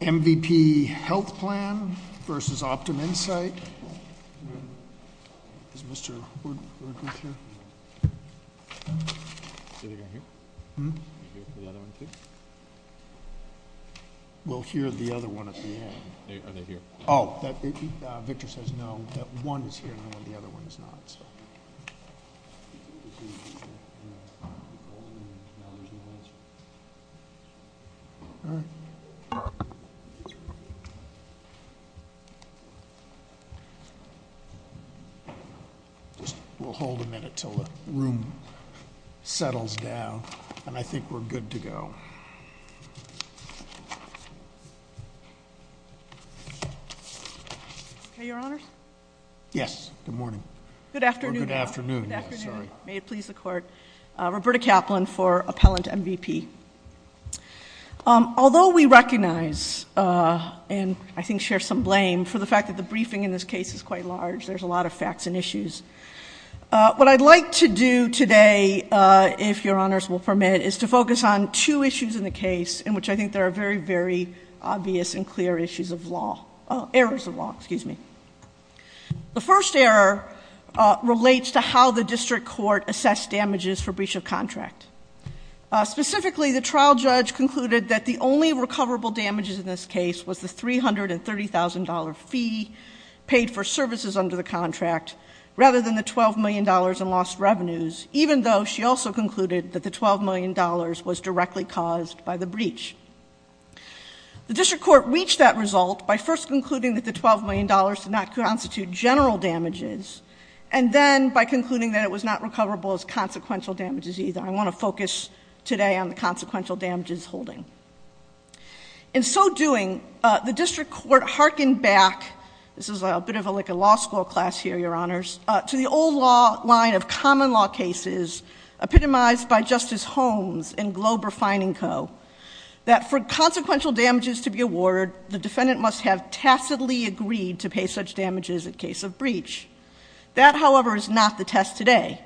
MVP Health Plan v. Optum Insight Roberta Kaplan for Appellant MVP Although we recognize and I think share some blame for the fact that the briefing in this case is quite large, there's a lot of facts and issues, what I'd like to do today, if Your Honors will permit, is to focus on two issues in the case in which I think there are very, very obvious and clear issues of law, errors of law, excuse me. The first error relates to how the district court assessed damages for breach of contract. Specifically, the trial judge concluded that the only recoverable damages in this case was the $330,000 fee paid for services under the contract, rather than the $12 million in lost revenues, even though she also concluded that the $12 million was directly caused by the breach. The district court reached that result by first concluding that the $12 million did not constitute general damages, and then by concluding that it was not recoverable as we focus today on the consequential damages holding. In so doing, the district court hearkened back, this is a bit of like a law school class here, Your Honors, to the old law line of common law cases, epitomized by Justice Holmes and Glober Feiningko, that for consequential damages to be awarded, the defendant must have tacitly agreed to pay such damages in case of breach. That, however, is not the test today.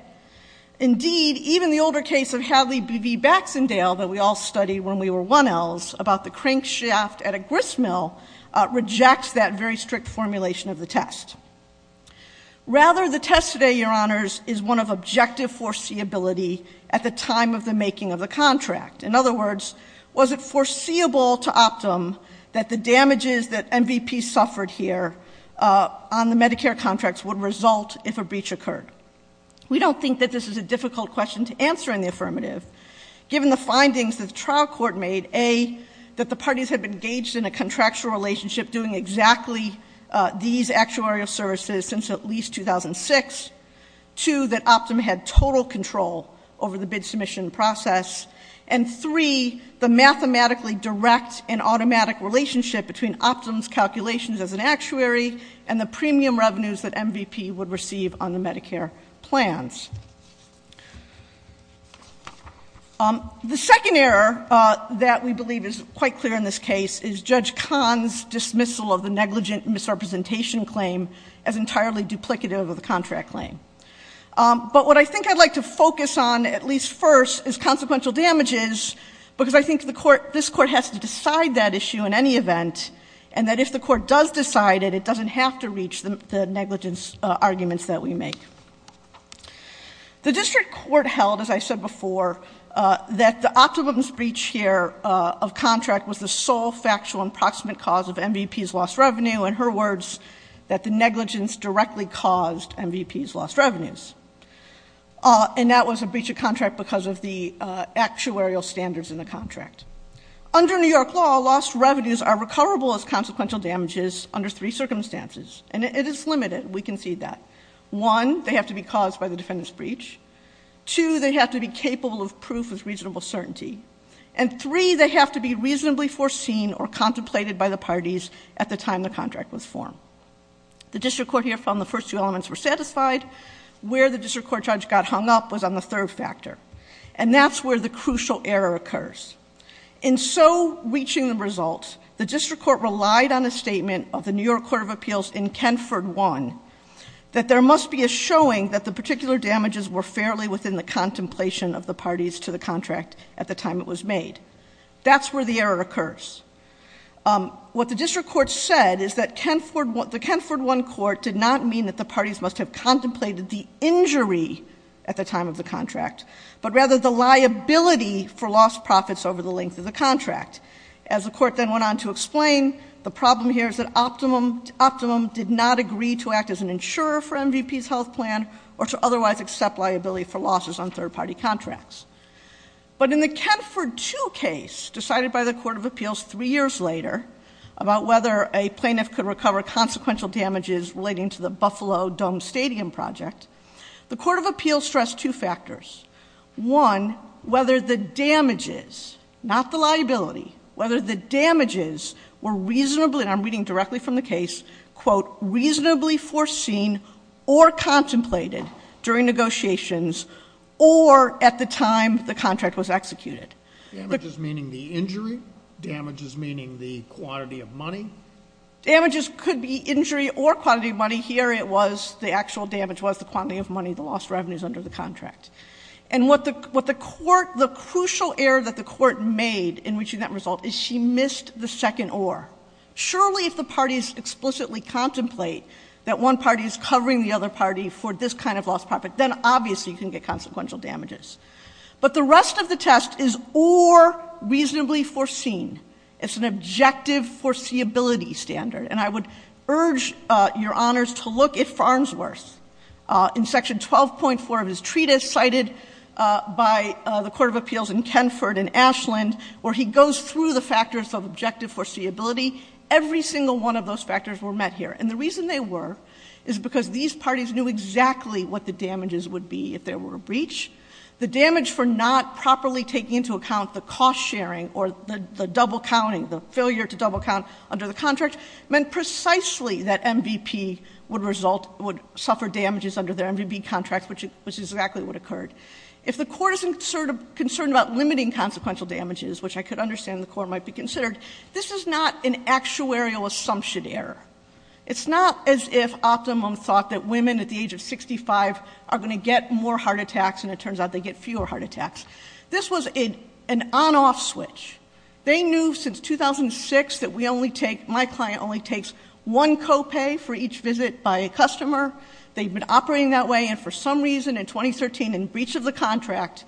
Indeed, even the older case of Hadley v. Baxendale that we all studied when we were 1Ls about the crankshaft at a gristmill rejects that very strict formulation of the test. Rather, the test today, Your Honors, is one of objective foreseeability at the time of the making of the contract. In other words, was it foreseeable to Optum that the damages that MVP suffered here on the Medicare contracts would result if a breach occurred? We don't think that this is a difficult question to answer in the affirmative given the findings that the trial court made, A, that the parties had been engaged in a contractual relationship doing exactly these actuarial services since at least 2006, 2, that Optum had total control over the bid submission process, and 3, the premium revenues that MVP would receive on the Medicare plans. The second error that we believe is quite clear in this case is Judge Kahn's dismissal of the negligent misrepresentation claim as entirely duplicative of the contract claim. But what I think I'd like to focus on at least first is consequential damages because I think this Court has to decide that issue in any event, and that if the Court does decide it, it doesn't have to reach the negligence arguments that we make. The district court held, as I said before, that the Optum's breach here of contract was the sole factual and proximate cause of MVP's lost revenue. In her words, that the negligence directly caused MVP's lost revenues. And that was a breach of contract because of the actuarial standards in the contract. Under New York law, lost revenues are recoverable as consequential damages under three circumstances, and it is limited. We can see that. One, they have to be caused by the defendant's breach. Two, they have to be capable of proof with reasonable certainty. And three, they have to be reasonably foreseen or contemplated by the parties at the time the contract was formed. The district court here found the first two elements were satisfied. Where the district court judge got hung up was on the third factor. And that's where the crucial error occurs. In so reaching the results, the district court relied on a statement of the New York Court of Appeals in Kenford one, that there must be a showing that the particular damages were fairly within the contemplation of the parties to the contract at the time it was made. That's where the error occurs. What the district court said is that the Kenford one court did not mean that the parties must have contemplated the injury at the time of the contract, but rather the liability for lost profits over the length of the contract. As the court then went on to explain, the problem here is that Optimum did not agree to act as an insurer for MVP's health plan or to otherwise accept liability for losses on third party contracts. But in the Kenford two case decided by the Court of Appeals three years later about whether a plaintiff could recover consequential damages relating to the Buffalo Dome Stadium project, the Court of Appeals stressed two factors. One, whether the damages, not the liability, whether the damages were reasonably, and I'm reading directly from the case, quote, reasonably foreseen or contemplated during negotiations or at the time the contract was executed. Damages meaning the injury? Damages meaning the quantity of money? Damages could be injury or quantity of money. Here it was, the actual damage was the quantity of money, the lost revenues under the contract. And what the court, the crucial error that the court made in reaching that result is she missed the second or. Surely if the parties explicitly contemplate that one party is covering the other party for this kind of lost profit, then obviously you can get consequential damages. But the rest of the test is or reasonably foreseen. It's an objective foreseeability standard. And I would urge Your Honors to look at Farnsworth. In section 12.4 of his treatise cited by the Court of Appeals in Kenford and Ashland where he goes through the factors of objective foreseeability, every single one of those factors were met here. And the reason they were is because these parties knew exactly what the damages would be if there were a breach. The damage for not properly taking into account the cost sharing or the double counting, the failure to double count under the contract meant precisely that MVP would result, would suffer damages under their MVP contracts, which is exactly what occurred. If the court is concerned about limiting consequential damages, which I could understand the court might be considered, this is not an actuarial assumption error. It's not as if Optimum thought that women at the age of 65 are going to get more heart attacks and it turns out they get fewer heart attacks. This was an on-off switch. They knew since 2006 that we only take, my client only takes one copay for each visit by a customer. They've been operating that way and for some reason in 2013 in breach of the contract,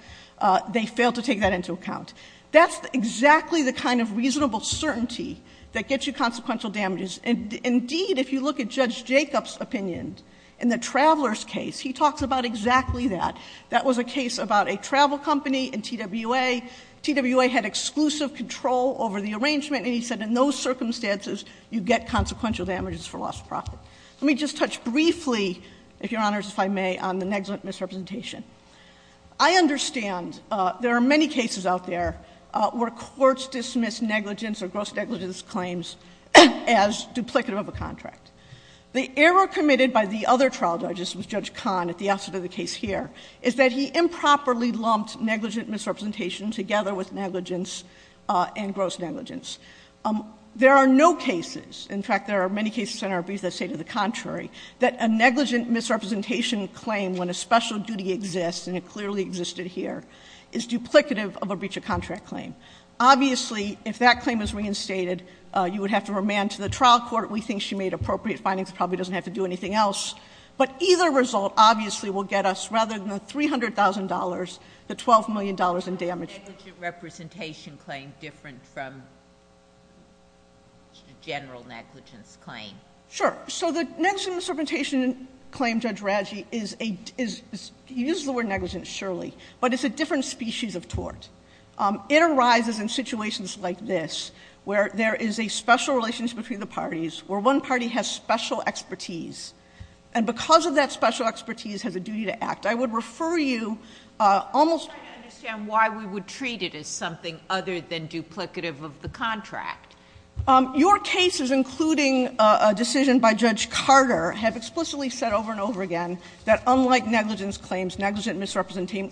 they failed to take that into account. That's exactly the kind of reasonable certainty that gets you consequential damages. Indeed, if you look at Judge Jacob's opinion in the Traveler's case, he talks about exactly that. That was a case about a travel company in TWA. TWA had exclusive control over the arrangement and he said in those circumstances you get consequential damages for loss of profit. Let me just touch briefly, if Your Honors, if I may, on the negligent misrepresentation. The error committed by the other trial judges, Judge Kahn at the outset of the case here, is that he improperly lumped negligent misrepresentation together with negligence and gross negligence. There are no cases, in fact, there are many cases in our brief that say to the contrary that a negligent misrepresentation claim when a special duty exists and it clearly existed here is duplicative of a breach of contract claim. Obviously, if that claim is reinstated, you would have to remand to the trial court. We think she made appropriate findings. Probably doesn't have to do anything else. But either result, obviously, will get us, rather than the $300,000, the $12 million in damage. Is the negligent misrepresentation claim different from the general negligence claim? Sure. So the negligent misrepresentation claim, Judge Radji, is a, he uses the word negligent surely, but it's a different species of tort. It arises in situations like this, where there is a special relationship between the parties, where one party has special expertise, and because of that special expertise has a duty to act. I would refer you almost to the fact that there is a duty to act. I'm just trying to understand why we would treat it as something other than duplicative of the contract. Your cases, including a decision by Judge Carter, have explicitly said over and over again that unlike negligence claims, negligent misrepresentation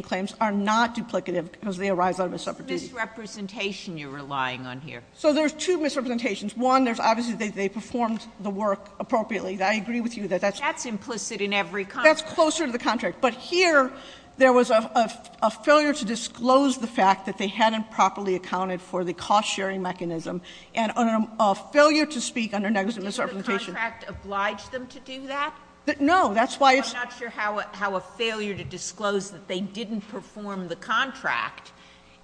claims are not duplicative because they arise out of a separate duty. What's the misrepresentation you're relying on here? So there's two misrepresentations. One, there's obviously they performed the work appropriately. I agree with you that that's. That's implicit in every contract. That's closer to the contract. But here, there was a failure to disclose the fact that they hadn't properly accounted for the cost-sharing mechanism, and a failure to speak under negligent misrepresentation. The contract obliged them to do that? No. That's why it's. I'm not sure how a failure to disclose that they didn't perform the contract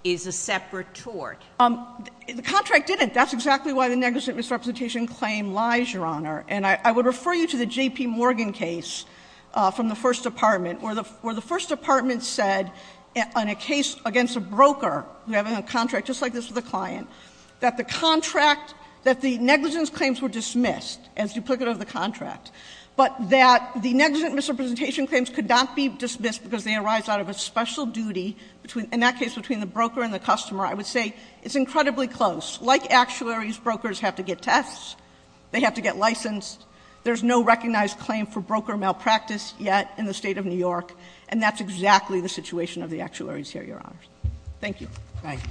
is a separate tort. The contract didn't. That's exactly why the negligent misrepresentation claim lies, Your Honor. And I would refer you to the J.P. Morgan case from the First Department, where the First Department said on a case against a broker who had a contract just like this for the client, that the contract, that the negligence claims were dismissed as duplicative of the contract, but that the negligent misrepresentation claims could not be dismissed because they arise out of a special duty, in that case between the broker and the customer. I would say it's incredibly close. Like actuaries, brokers have to get tests. They have to get licensed. There's no recognized claim for broker malpractice yet in the State of New York, and that's exactly the situation of the actuaries here, Your Honor. Thank you. Thank you.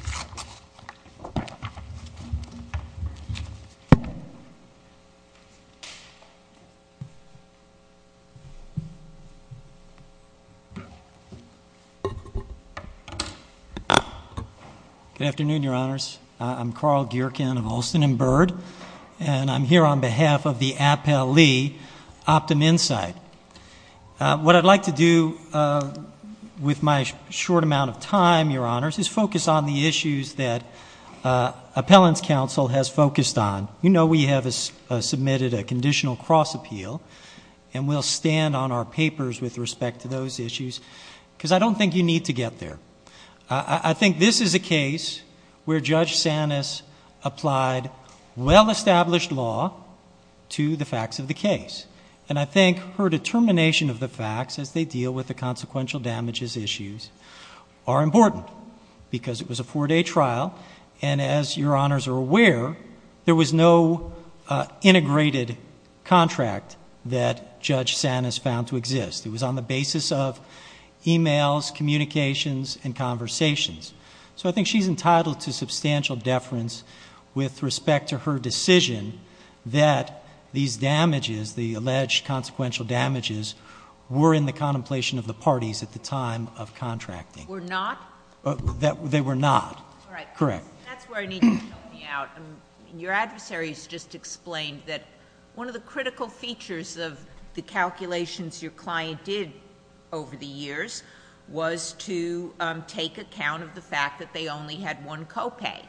Good afternoon, Your Honors. I'm Carl Geerken of Olsen & Bird, and I'm here on behalf of the Appellee Optum Insight. What I'd like to do with my short amount of time, Your Honors, is focus on the issues that Appellant's Counsel has focused on. You know we have submitted a conditional cross-appeal, and we'll stand on our papers with respect to those issues, because I don't think you need to get there. I think this is a case where Judge Sanis applied well-established law to the facts of the case. And I think her determination of the facts as they deal with the consequential damages issues are important, because it was a four-day trial, and as Your Honors are aware, there was no integrated contract that Judge Sanis found to exist. It was on the basis of e-mails, communications, and conversations. So I think she's entitled to substantial deference with respect to her decision that these damages, the alleged consequential damages, were in the contemplation of the parties at the time of contracting. Were not? They were not. All right. Correct. That's where I need you to help me out. Your adversaries just explained that one of the critical features of the calculations your client did over the years was to take account of the fact that they only had one copay,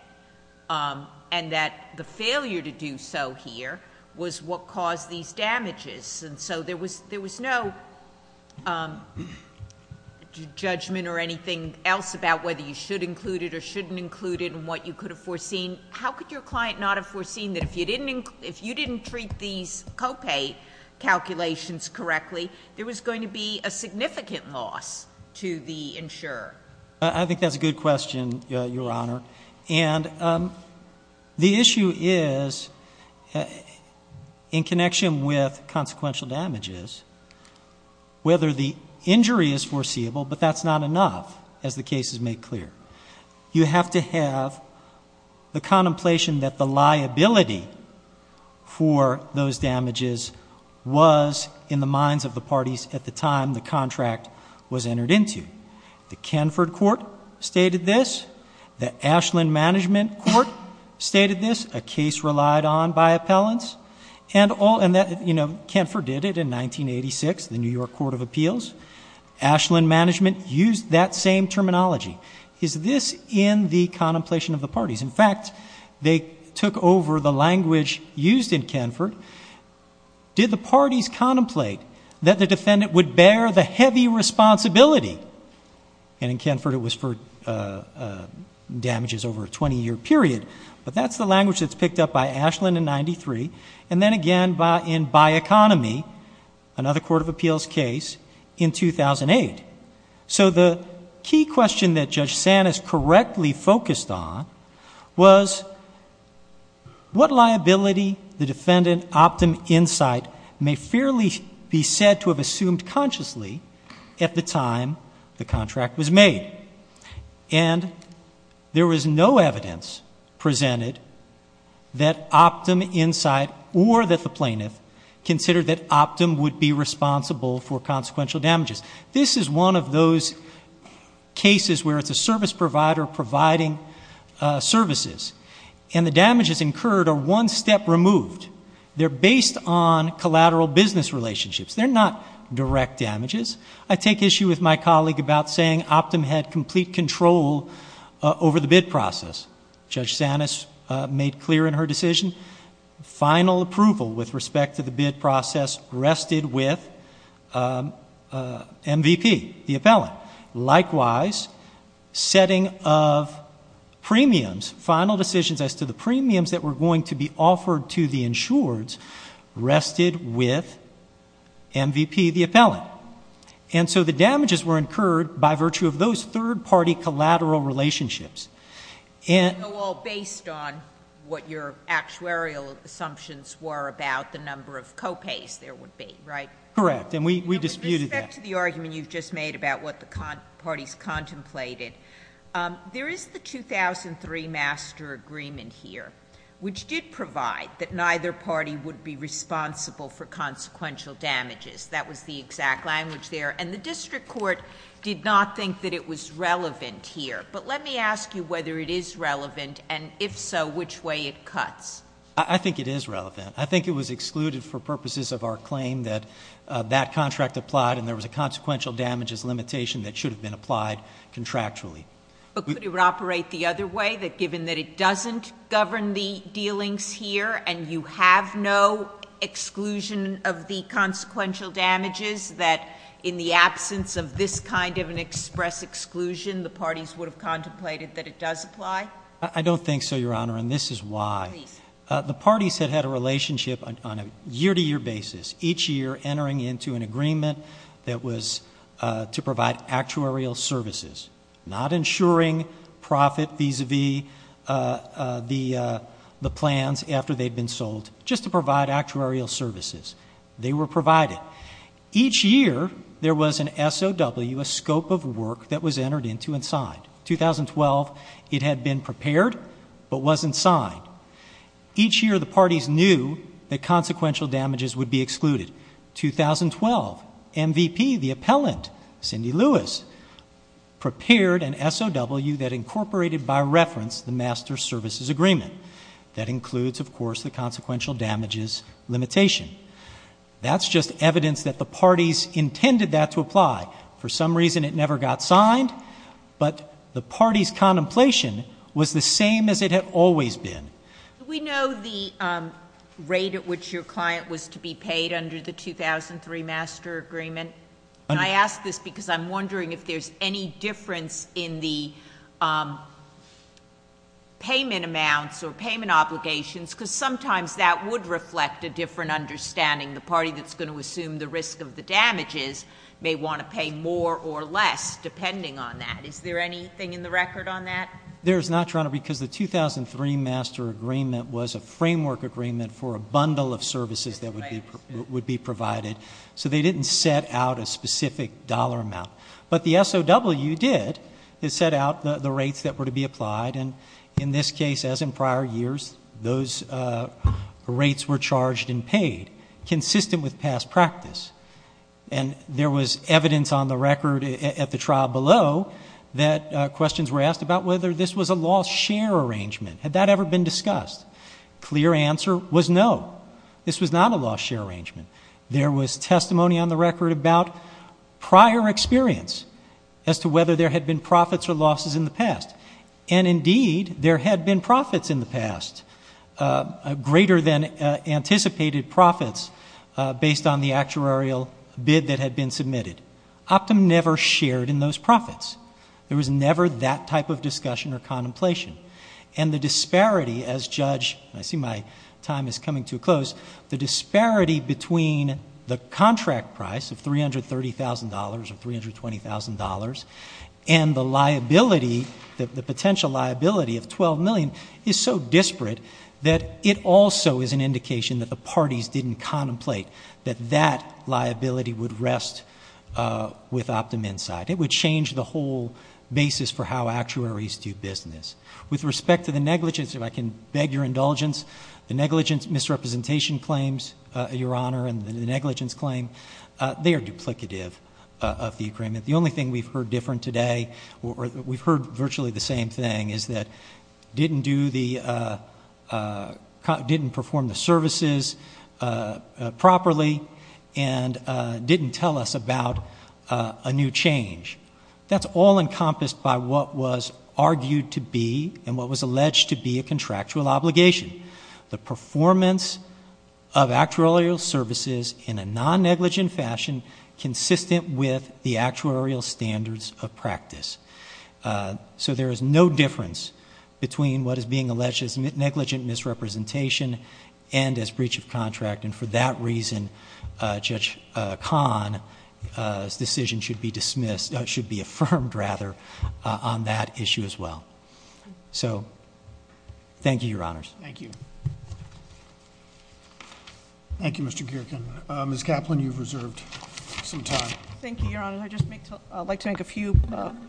and that the failure to do so here was what caused these damages. And so there was no judgment or anything else about whether you should include it or shouldn't include it and what you could have foreseen. How could your client not have foreseen that if you didn't treat these copay calculations correctly, there was going to be a significant loss to the insurer? I think that's a good question, Your Honor. And the issue is in connection with consequential damages, whether the injury is foreseeable, but that's not enough, as the case is made clear. You have to have the contemplation that the liability for those damages was in the minds of the parties at the time the contract was entered into. The Kenford Court stated this. The Ashland Management Court stated this, a case relied on by appellants. And, you know, Kenford did it in 1986, the New York Court of Appeals. Ashland Management used that same terminology. Is this in the contemplation of the parties? In fact, they took over the language used in Kenford. Did the parties contemplate that the defendant would bear the heavy responsibility? And in Kenford, it was for damages over a 20-year period. But that's the language that's picked up by Ashland in 1993, and then again in By Economy, another Court of Appeals case, in 2008. So the key question that Judge Sanis correctly focused on was what liability the defendant, Optum Insight, may fairly be said to have assumed consciously at the time the contract was made. And there was no evidence presented that Optum Insight or that the plaintiff considered that Optum would be responsible for consequential damages. This is one of those cases where it's a service provider providing services, and the damages incurred are one step removed. They're based on collateral business relationships. They're not direct damages. I take issue with my colleague about saying Optum had complete control over the bid process. Judge Sanis made clear in her decision, final approval with respect to the bid process rested with MVP, the appellant. Likewise, setting of premiums, final decisions as to the premiums that were going to be offered to the insureds rested with MVP, the appellant. And so the damages were incurred by virtue of those third-party collateral relationships. Well, based on what your actuarial assumptions were about the number of copays there would be, right? Correct. And we disputed that. To get to the argument you've just made about what the parties contemplated, there is the 2003 master agreement here which did provide that neither party would be responsible for consequential damages. That was the exact language there. And the district court did not think that it was relevant here. But let me ask you whether it is relevant, and if so, which way it cuts. I think it is relevant. I think it was excluded for purposes of our claim that that contract applied and there was a consequential damages limitation that should have been applied contractually. But could it operate the other way, that given that it doesn't govern the dealings here and you have no exclusion of the consequential damages, that in the absence of this kind of an express exclusion the parties would have contemplated that it does apply? I don't think so, Your Honor, and this is why. Please. The parties had had a relationship on a year-to-year basis, each year entering into an agreement that was to provide actuarial services, not ensuring profit vis-a-vis the plans after they had been sold, just to provide actuarial services. They were provided. Each year there was an SOW, a scope of work, that was entered into and signed. 2012, it had been prepared but wasn't signed. Each year the parties knew that consequential damages would be excluded. 2012, MVP, the appellant, Cindy Lewis, prepared an SOW that incorporated by reference the master services agreement. That includes, of course, the consequential damages limitation. That's just evidence that the parties intended that to apply. For some reason it never got signed, but the parties' contemplation was the same as it had always been. Do we know the rate at which your client was to be paid under the 2003 master agreement? I ask this because I'm wondering if there's any difference in the payment amounts or payment obligations, because sometimes that would reflect a different understanding. The party that's going to assume the risk of the damages may want to pay more or less, depending on that. Is there anything in the record on that? There is not, Your Honor, because the 2003 master agreement was a framework agreement for a bundle of services that would be provided, so they didn't set out a specific dollar amount. But the SOW did. It set out the rates that were to be applied. In this case, as in prior years, those rates were charged and paid, consistent with past practice. There was evidence on the record at the trial below that questions were whether this was a loss-share arrangement. Had that ever been discussed? Clear answer was no. This was not a loss-share arrangement. There was testimony on the record about prior experience as to whether there had been profits or losses in the past. And, indeed, there had been profits in the past, greater than anticipated profits, based on the actuarial bid that had been submitted. Optum never shared in those profits. There was never that type of discussion or contemplation. And the disparity as judge, and I see my time is coming to a close, the disparity between the contract price of $330,000 or $320,000 and the liability, the potential liability of $12 million, is so disparate that it also is an indication that the parties didn't contemplate that that liability would rest with Optum inside. It would change the whole basis for how actuaries do business. With respect to the negligence, if I can beg your indulgence, the negligence misrepresentation claims, Your Honor, and the negligence claim, they are duplicative of the agreement. The only thing we've heard different today, or we've heard virtually the same thing, is that didn't perform the services properly and didn't tell us about a new change. That's all encompassed by what was argued to be and what was alleged to be a contractual obligation, the performance of actuarial services in a non-negligent fashion consistent with the actuarial standards of practice. So there is no difference between what is being alleged as negligent misrepresentation and as breach of contract. And for that reason, Judge Kahn's decision should be dismissed, should be affirmed, rather, on that issue as well. So thank you, Your Honors. Thank you. Thank you, Mr. Geerken. Ms. Kaplan, you've reserved some time. Thank you, Your Honor. I'd just like to make a few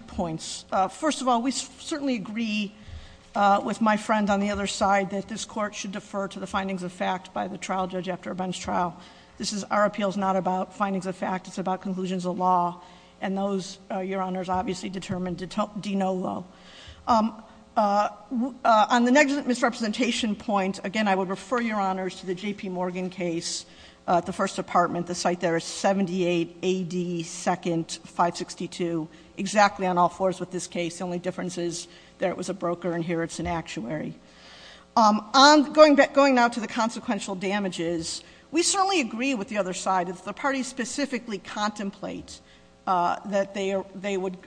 points. First of all, we certainly agree with my friend on the other side that this Court should defer to the findings of fact by the trial judge after Ben's trial. Our appeal is not about findings of fact. It's about conclusions of law. And those, Your Honors, obviously determine de no lo. On the negligent misrepresentation point, again, I would refer, Your Honors, to the J.P. Morgan case at the First Department. The site there is 78 AD 2nd, 562, exactly on all fours with this case. The only difference is there it was a broker and here it's an actuary. Going now to the consequential damages, we certainly agree with the other side that if the parties specifically contemplate that the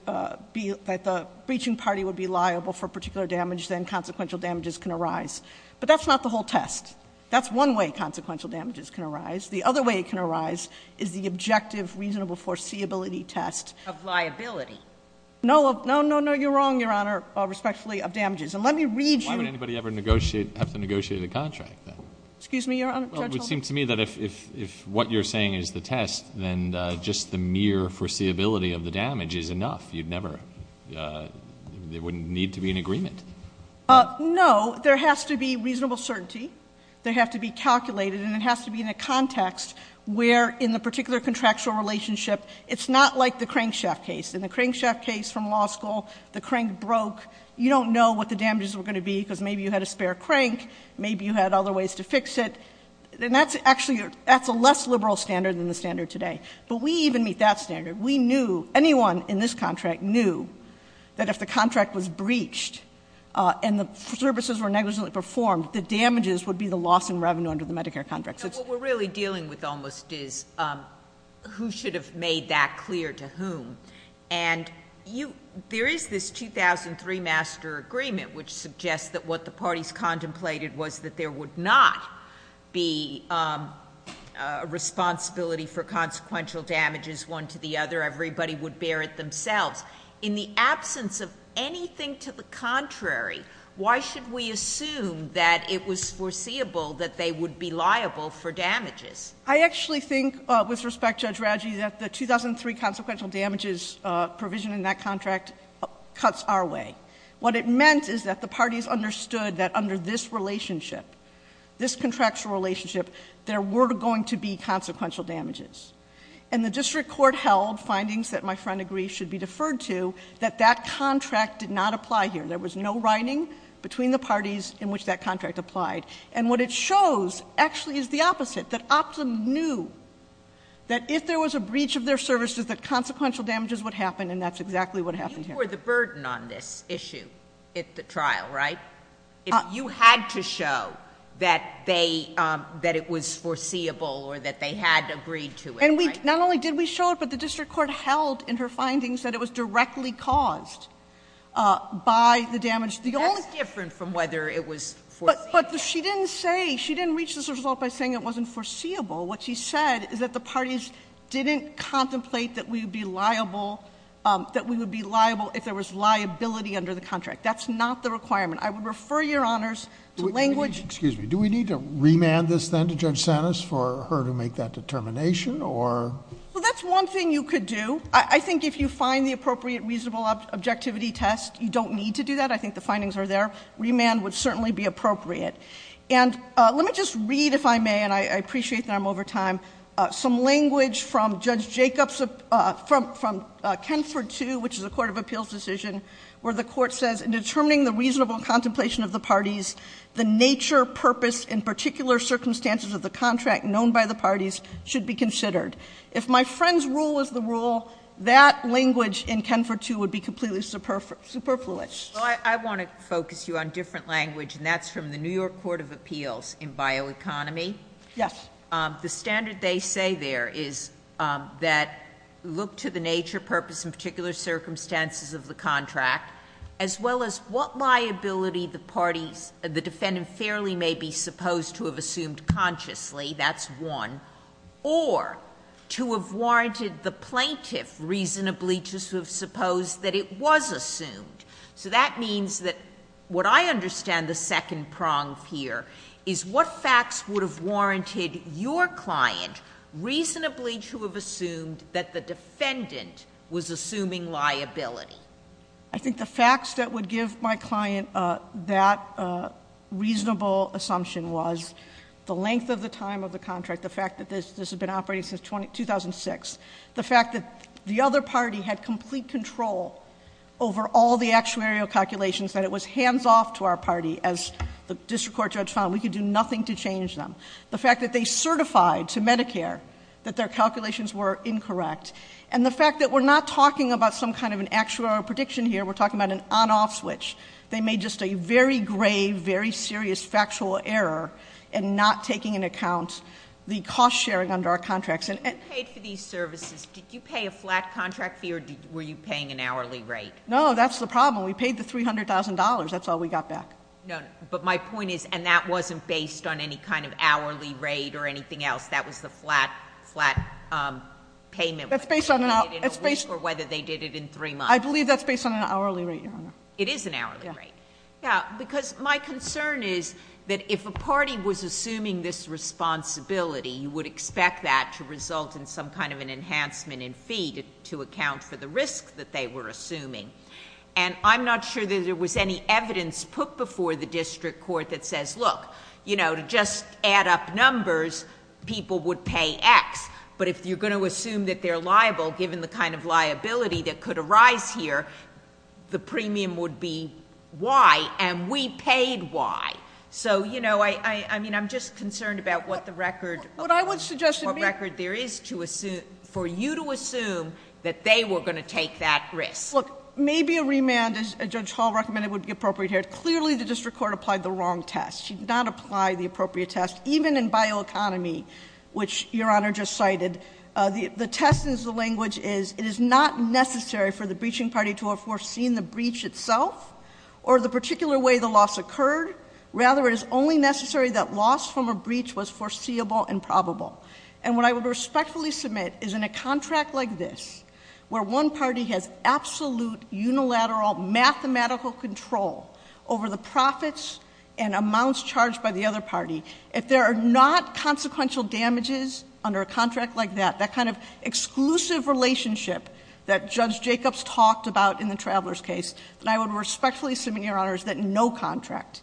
breaching party would be liable for a particular damage, then consequential damages can arise. But that's not the whole test. That's one way consequential damages can arise. The other way it can arise is the objective reasonable foreseeability test. Of liability. No. No, no, no. You're wrong, Your Honor, respectfully, of damages. And let me read you. Why would anybody ever negotiate, have to negotiate a contract, then? Excuse me, Your Honor? Judge Holdren? Well, it would seem to me that if what you're saying is the test, then just the mere foreseeability of the damage is enough. You'd never, there wouldn't need to be an agreement. No. There has to be reasonable certainty. They have to be calculated. And it has to be in a context where in the particular contractual relationship it's not like the crankshaft case. In the crankshaft case from law school, the crank broke. You don't know what the damages were going to be because maybe you had a spare crank, maybe you had other ways to fix it. And that's actually, that's a less liberal standard than the standard today. But we even meet that standard. We knew, anyone in this contract knew that if the contract was breached and the services were negligently performed, the damages would be the loss in revenue under the Medicare contract. What we're really dealing with almost is who should have made that clear to whom. And you, there is this 2003 master agreement which suggests that what the parties contemplated was that there would not be a responsibility for consequential damages one to the other. Everybody would bear it themselves. In the absence of anything to the contrary, why should we assume that it was foreseeable that they would be liable for damages? I actually think, with respect, Judge Radji, that the 2003 consequential damages provision in that contract cuts our way. What it meant is that the parties understood that under this relationship, this contractual relationship, there were going to be consequential damages. And the district court held findings that my friend agrees should be deferred to, that that contract did not apply here. There was no writing between the parties in which that contract applied. And what it shows actually is the opposite, that Optum knew that if there was a breach of their services, that consequential damages would happen, and that's exactly what happened here. You bore the burden on this issue at the trial, right? If you had to show that they – that it was foreseeable or that they had agreed to it, right? And we – not only did we show it, but the district court held in her findings that it was directly caused by the damage. That's different from whether it was foreseeable. But she didn't say – she didn't reach this result by saying it wasn't foreseeable. What she said is that the parties didn't contemplate that we would be liable – that we would be liable if there was liability under the contract. That's not the requirement. I would refer Your Honors to language – Excuse me. Do we need to remand this, then, to Judge Sanis for her to make that determination or – Well, that's one thing you could do. I think if you find the appropriate reasonable objectivity test, you don't need to do that. I think the findings are there. Remand would certainly be appropriate. And let me just read, if I may, and I appreciate that I'm over time, some language from Judge Jacobs from Kenford II, which is a court of appeals decision, where the contemplation of the parties, the nature, purpose, and particular circumstances of the contract known by the parties should be considered. If my friend's rule was the rule, that language in Kenford II would be completely superfluous. Well, I want to focus you on different language, and that's from the New York Court of Appeals in Bioeconomy. Yes. The standard they say there is that look to the nature, purpose, and particular circumstances of the contract, as well as what liability the parties, the defendant fairly may be supposed to have assumed consciously, that's one, or to have warranted the plaintiff reasonably to have supposed that it was assumed. So that means that what I understand the second prong of here is what facts would have warranted your client reasonably to have assumed that the defendant was assuming liability? I think the facts that would give my client that reasonable assumption was the length of the time of the contract, the fact that this has been operating since 2006, the fact that the other party had complete control over all the actuarial calculations, that it was hands-off to our party, as the district court judge found, we could do nothing to change them. The fact that they certified to Medicare that their calculations were incorrect. And the fact that we're not talking about some kind of an actuarial prediction here, we're talking about an on-off switch. They made just a very grave, very serious factual error in not taking into account the cost sharing under our contracts. When you paid for these services, did you pay a flat contract fee or were you paying an hourly rate? No, that's the problem. We paid the $300,000. That's all we got back. No, but my point is, and that wasn't based on any kind of hourly rate or anything else, that was the flat payment, whether they did it in a week or whether they did it in three months. I believe that's based on an hourly rate, Your Honor. It is an hourly rate. Yeah. Because my concern is that if a party was assuming this responsibility, you would expect that to result in some kind of an enhancement in fee to account for the risk that they were assuming. And I'm not sure that there was any evidence put before the district court that says, look, you know, to just add up numbers, people would pay X. But if you're going to assume that they're liable, given the kind of liability that could arise here, the premium would be Y, and we paid Y. So, you know, I mean, I'm just concerned about what the record of what record there is for you to assume that they were going to take that risk. Look, maybe a remand, as Judge Hall recommended, would be appropriate here. Clearly, the district court applied the wrong test. She did not apply the appropriate test. Even in bioeconomy, which Your Honor just cited, the test is the language is, it is not necessary for the breaching party to have foreseen the breach itself or the particular way the loss occurred. Rather, it is only necessary that loss from a breach was foreseeable and probable. And what I would respectfully submit is in a contract like this, where one party has absolute, unilateral, mathematical control over the profits and amounts charged by the other party, if there are not consequential damages under a contract like that, that kind of exclusive relationship that Judge Jacobs talked about in the Travelers case, then I would respectfully submit, Your Honors, that in no contract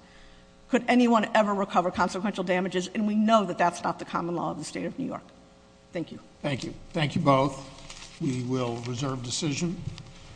could anyone ever recover consequential damages, and we know that that's not the common law of the State of New York. Thank you. Thank you. Thank you both. We will reserve decision.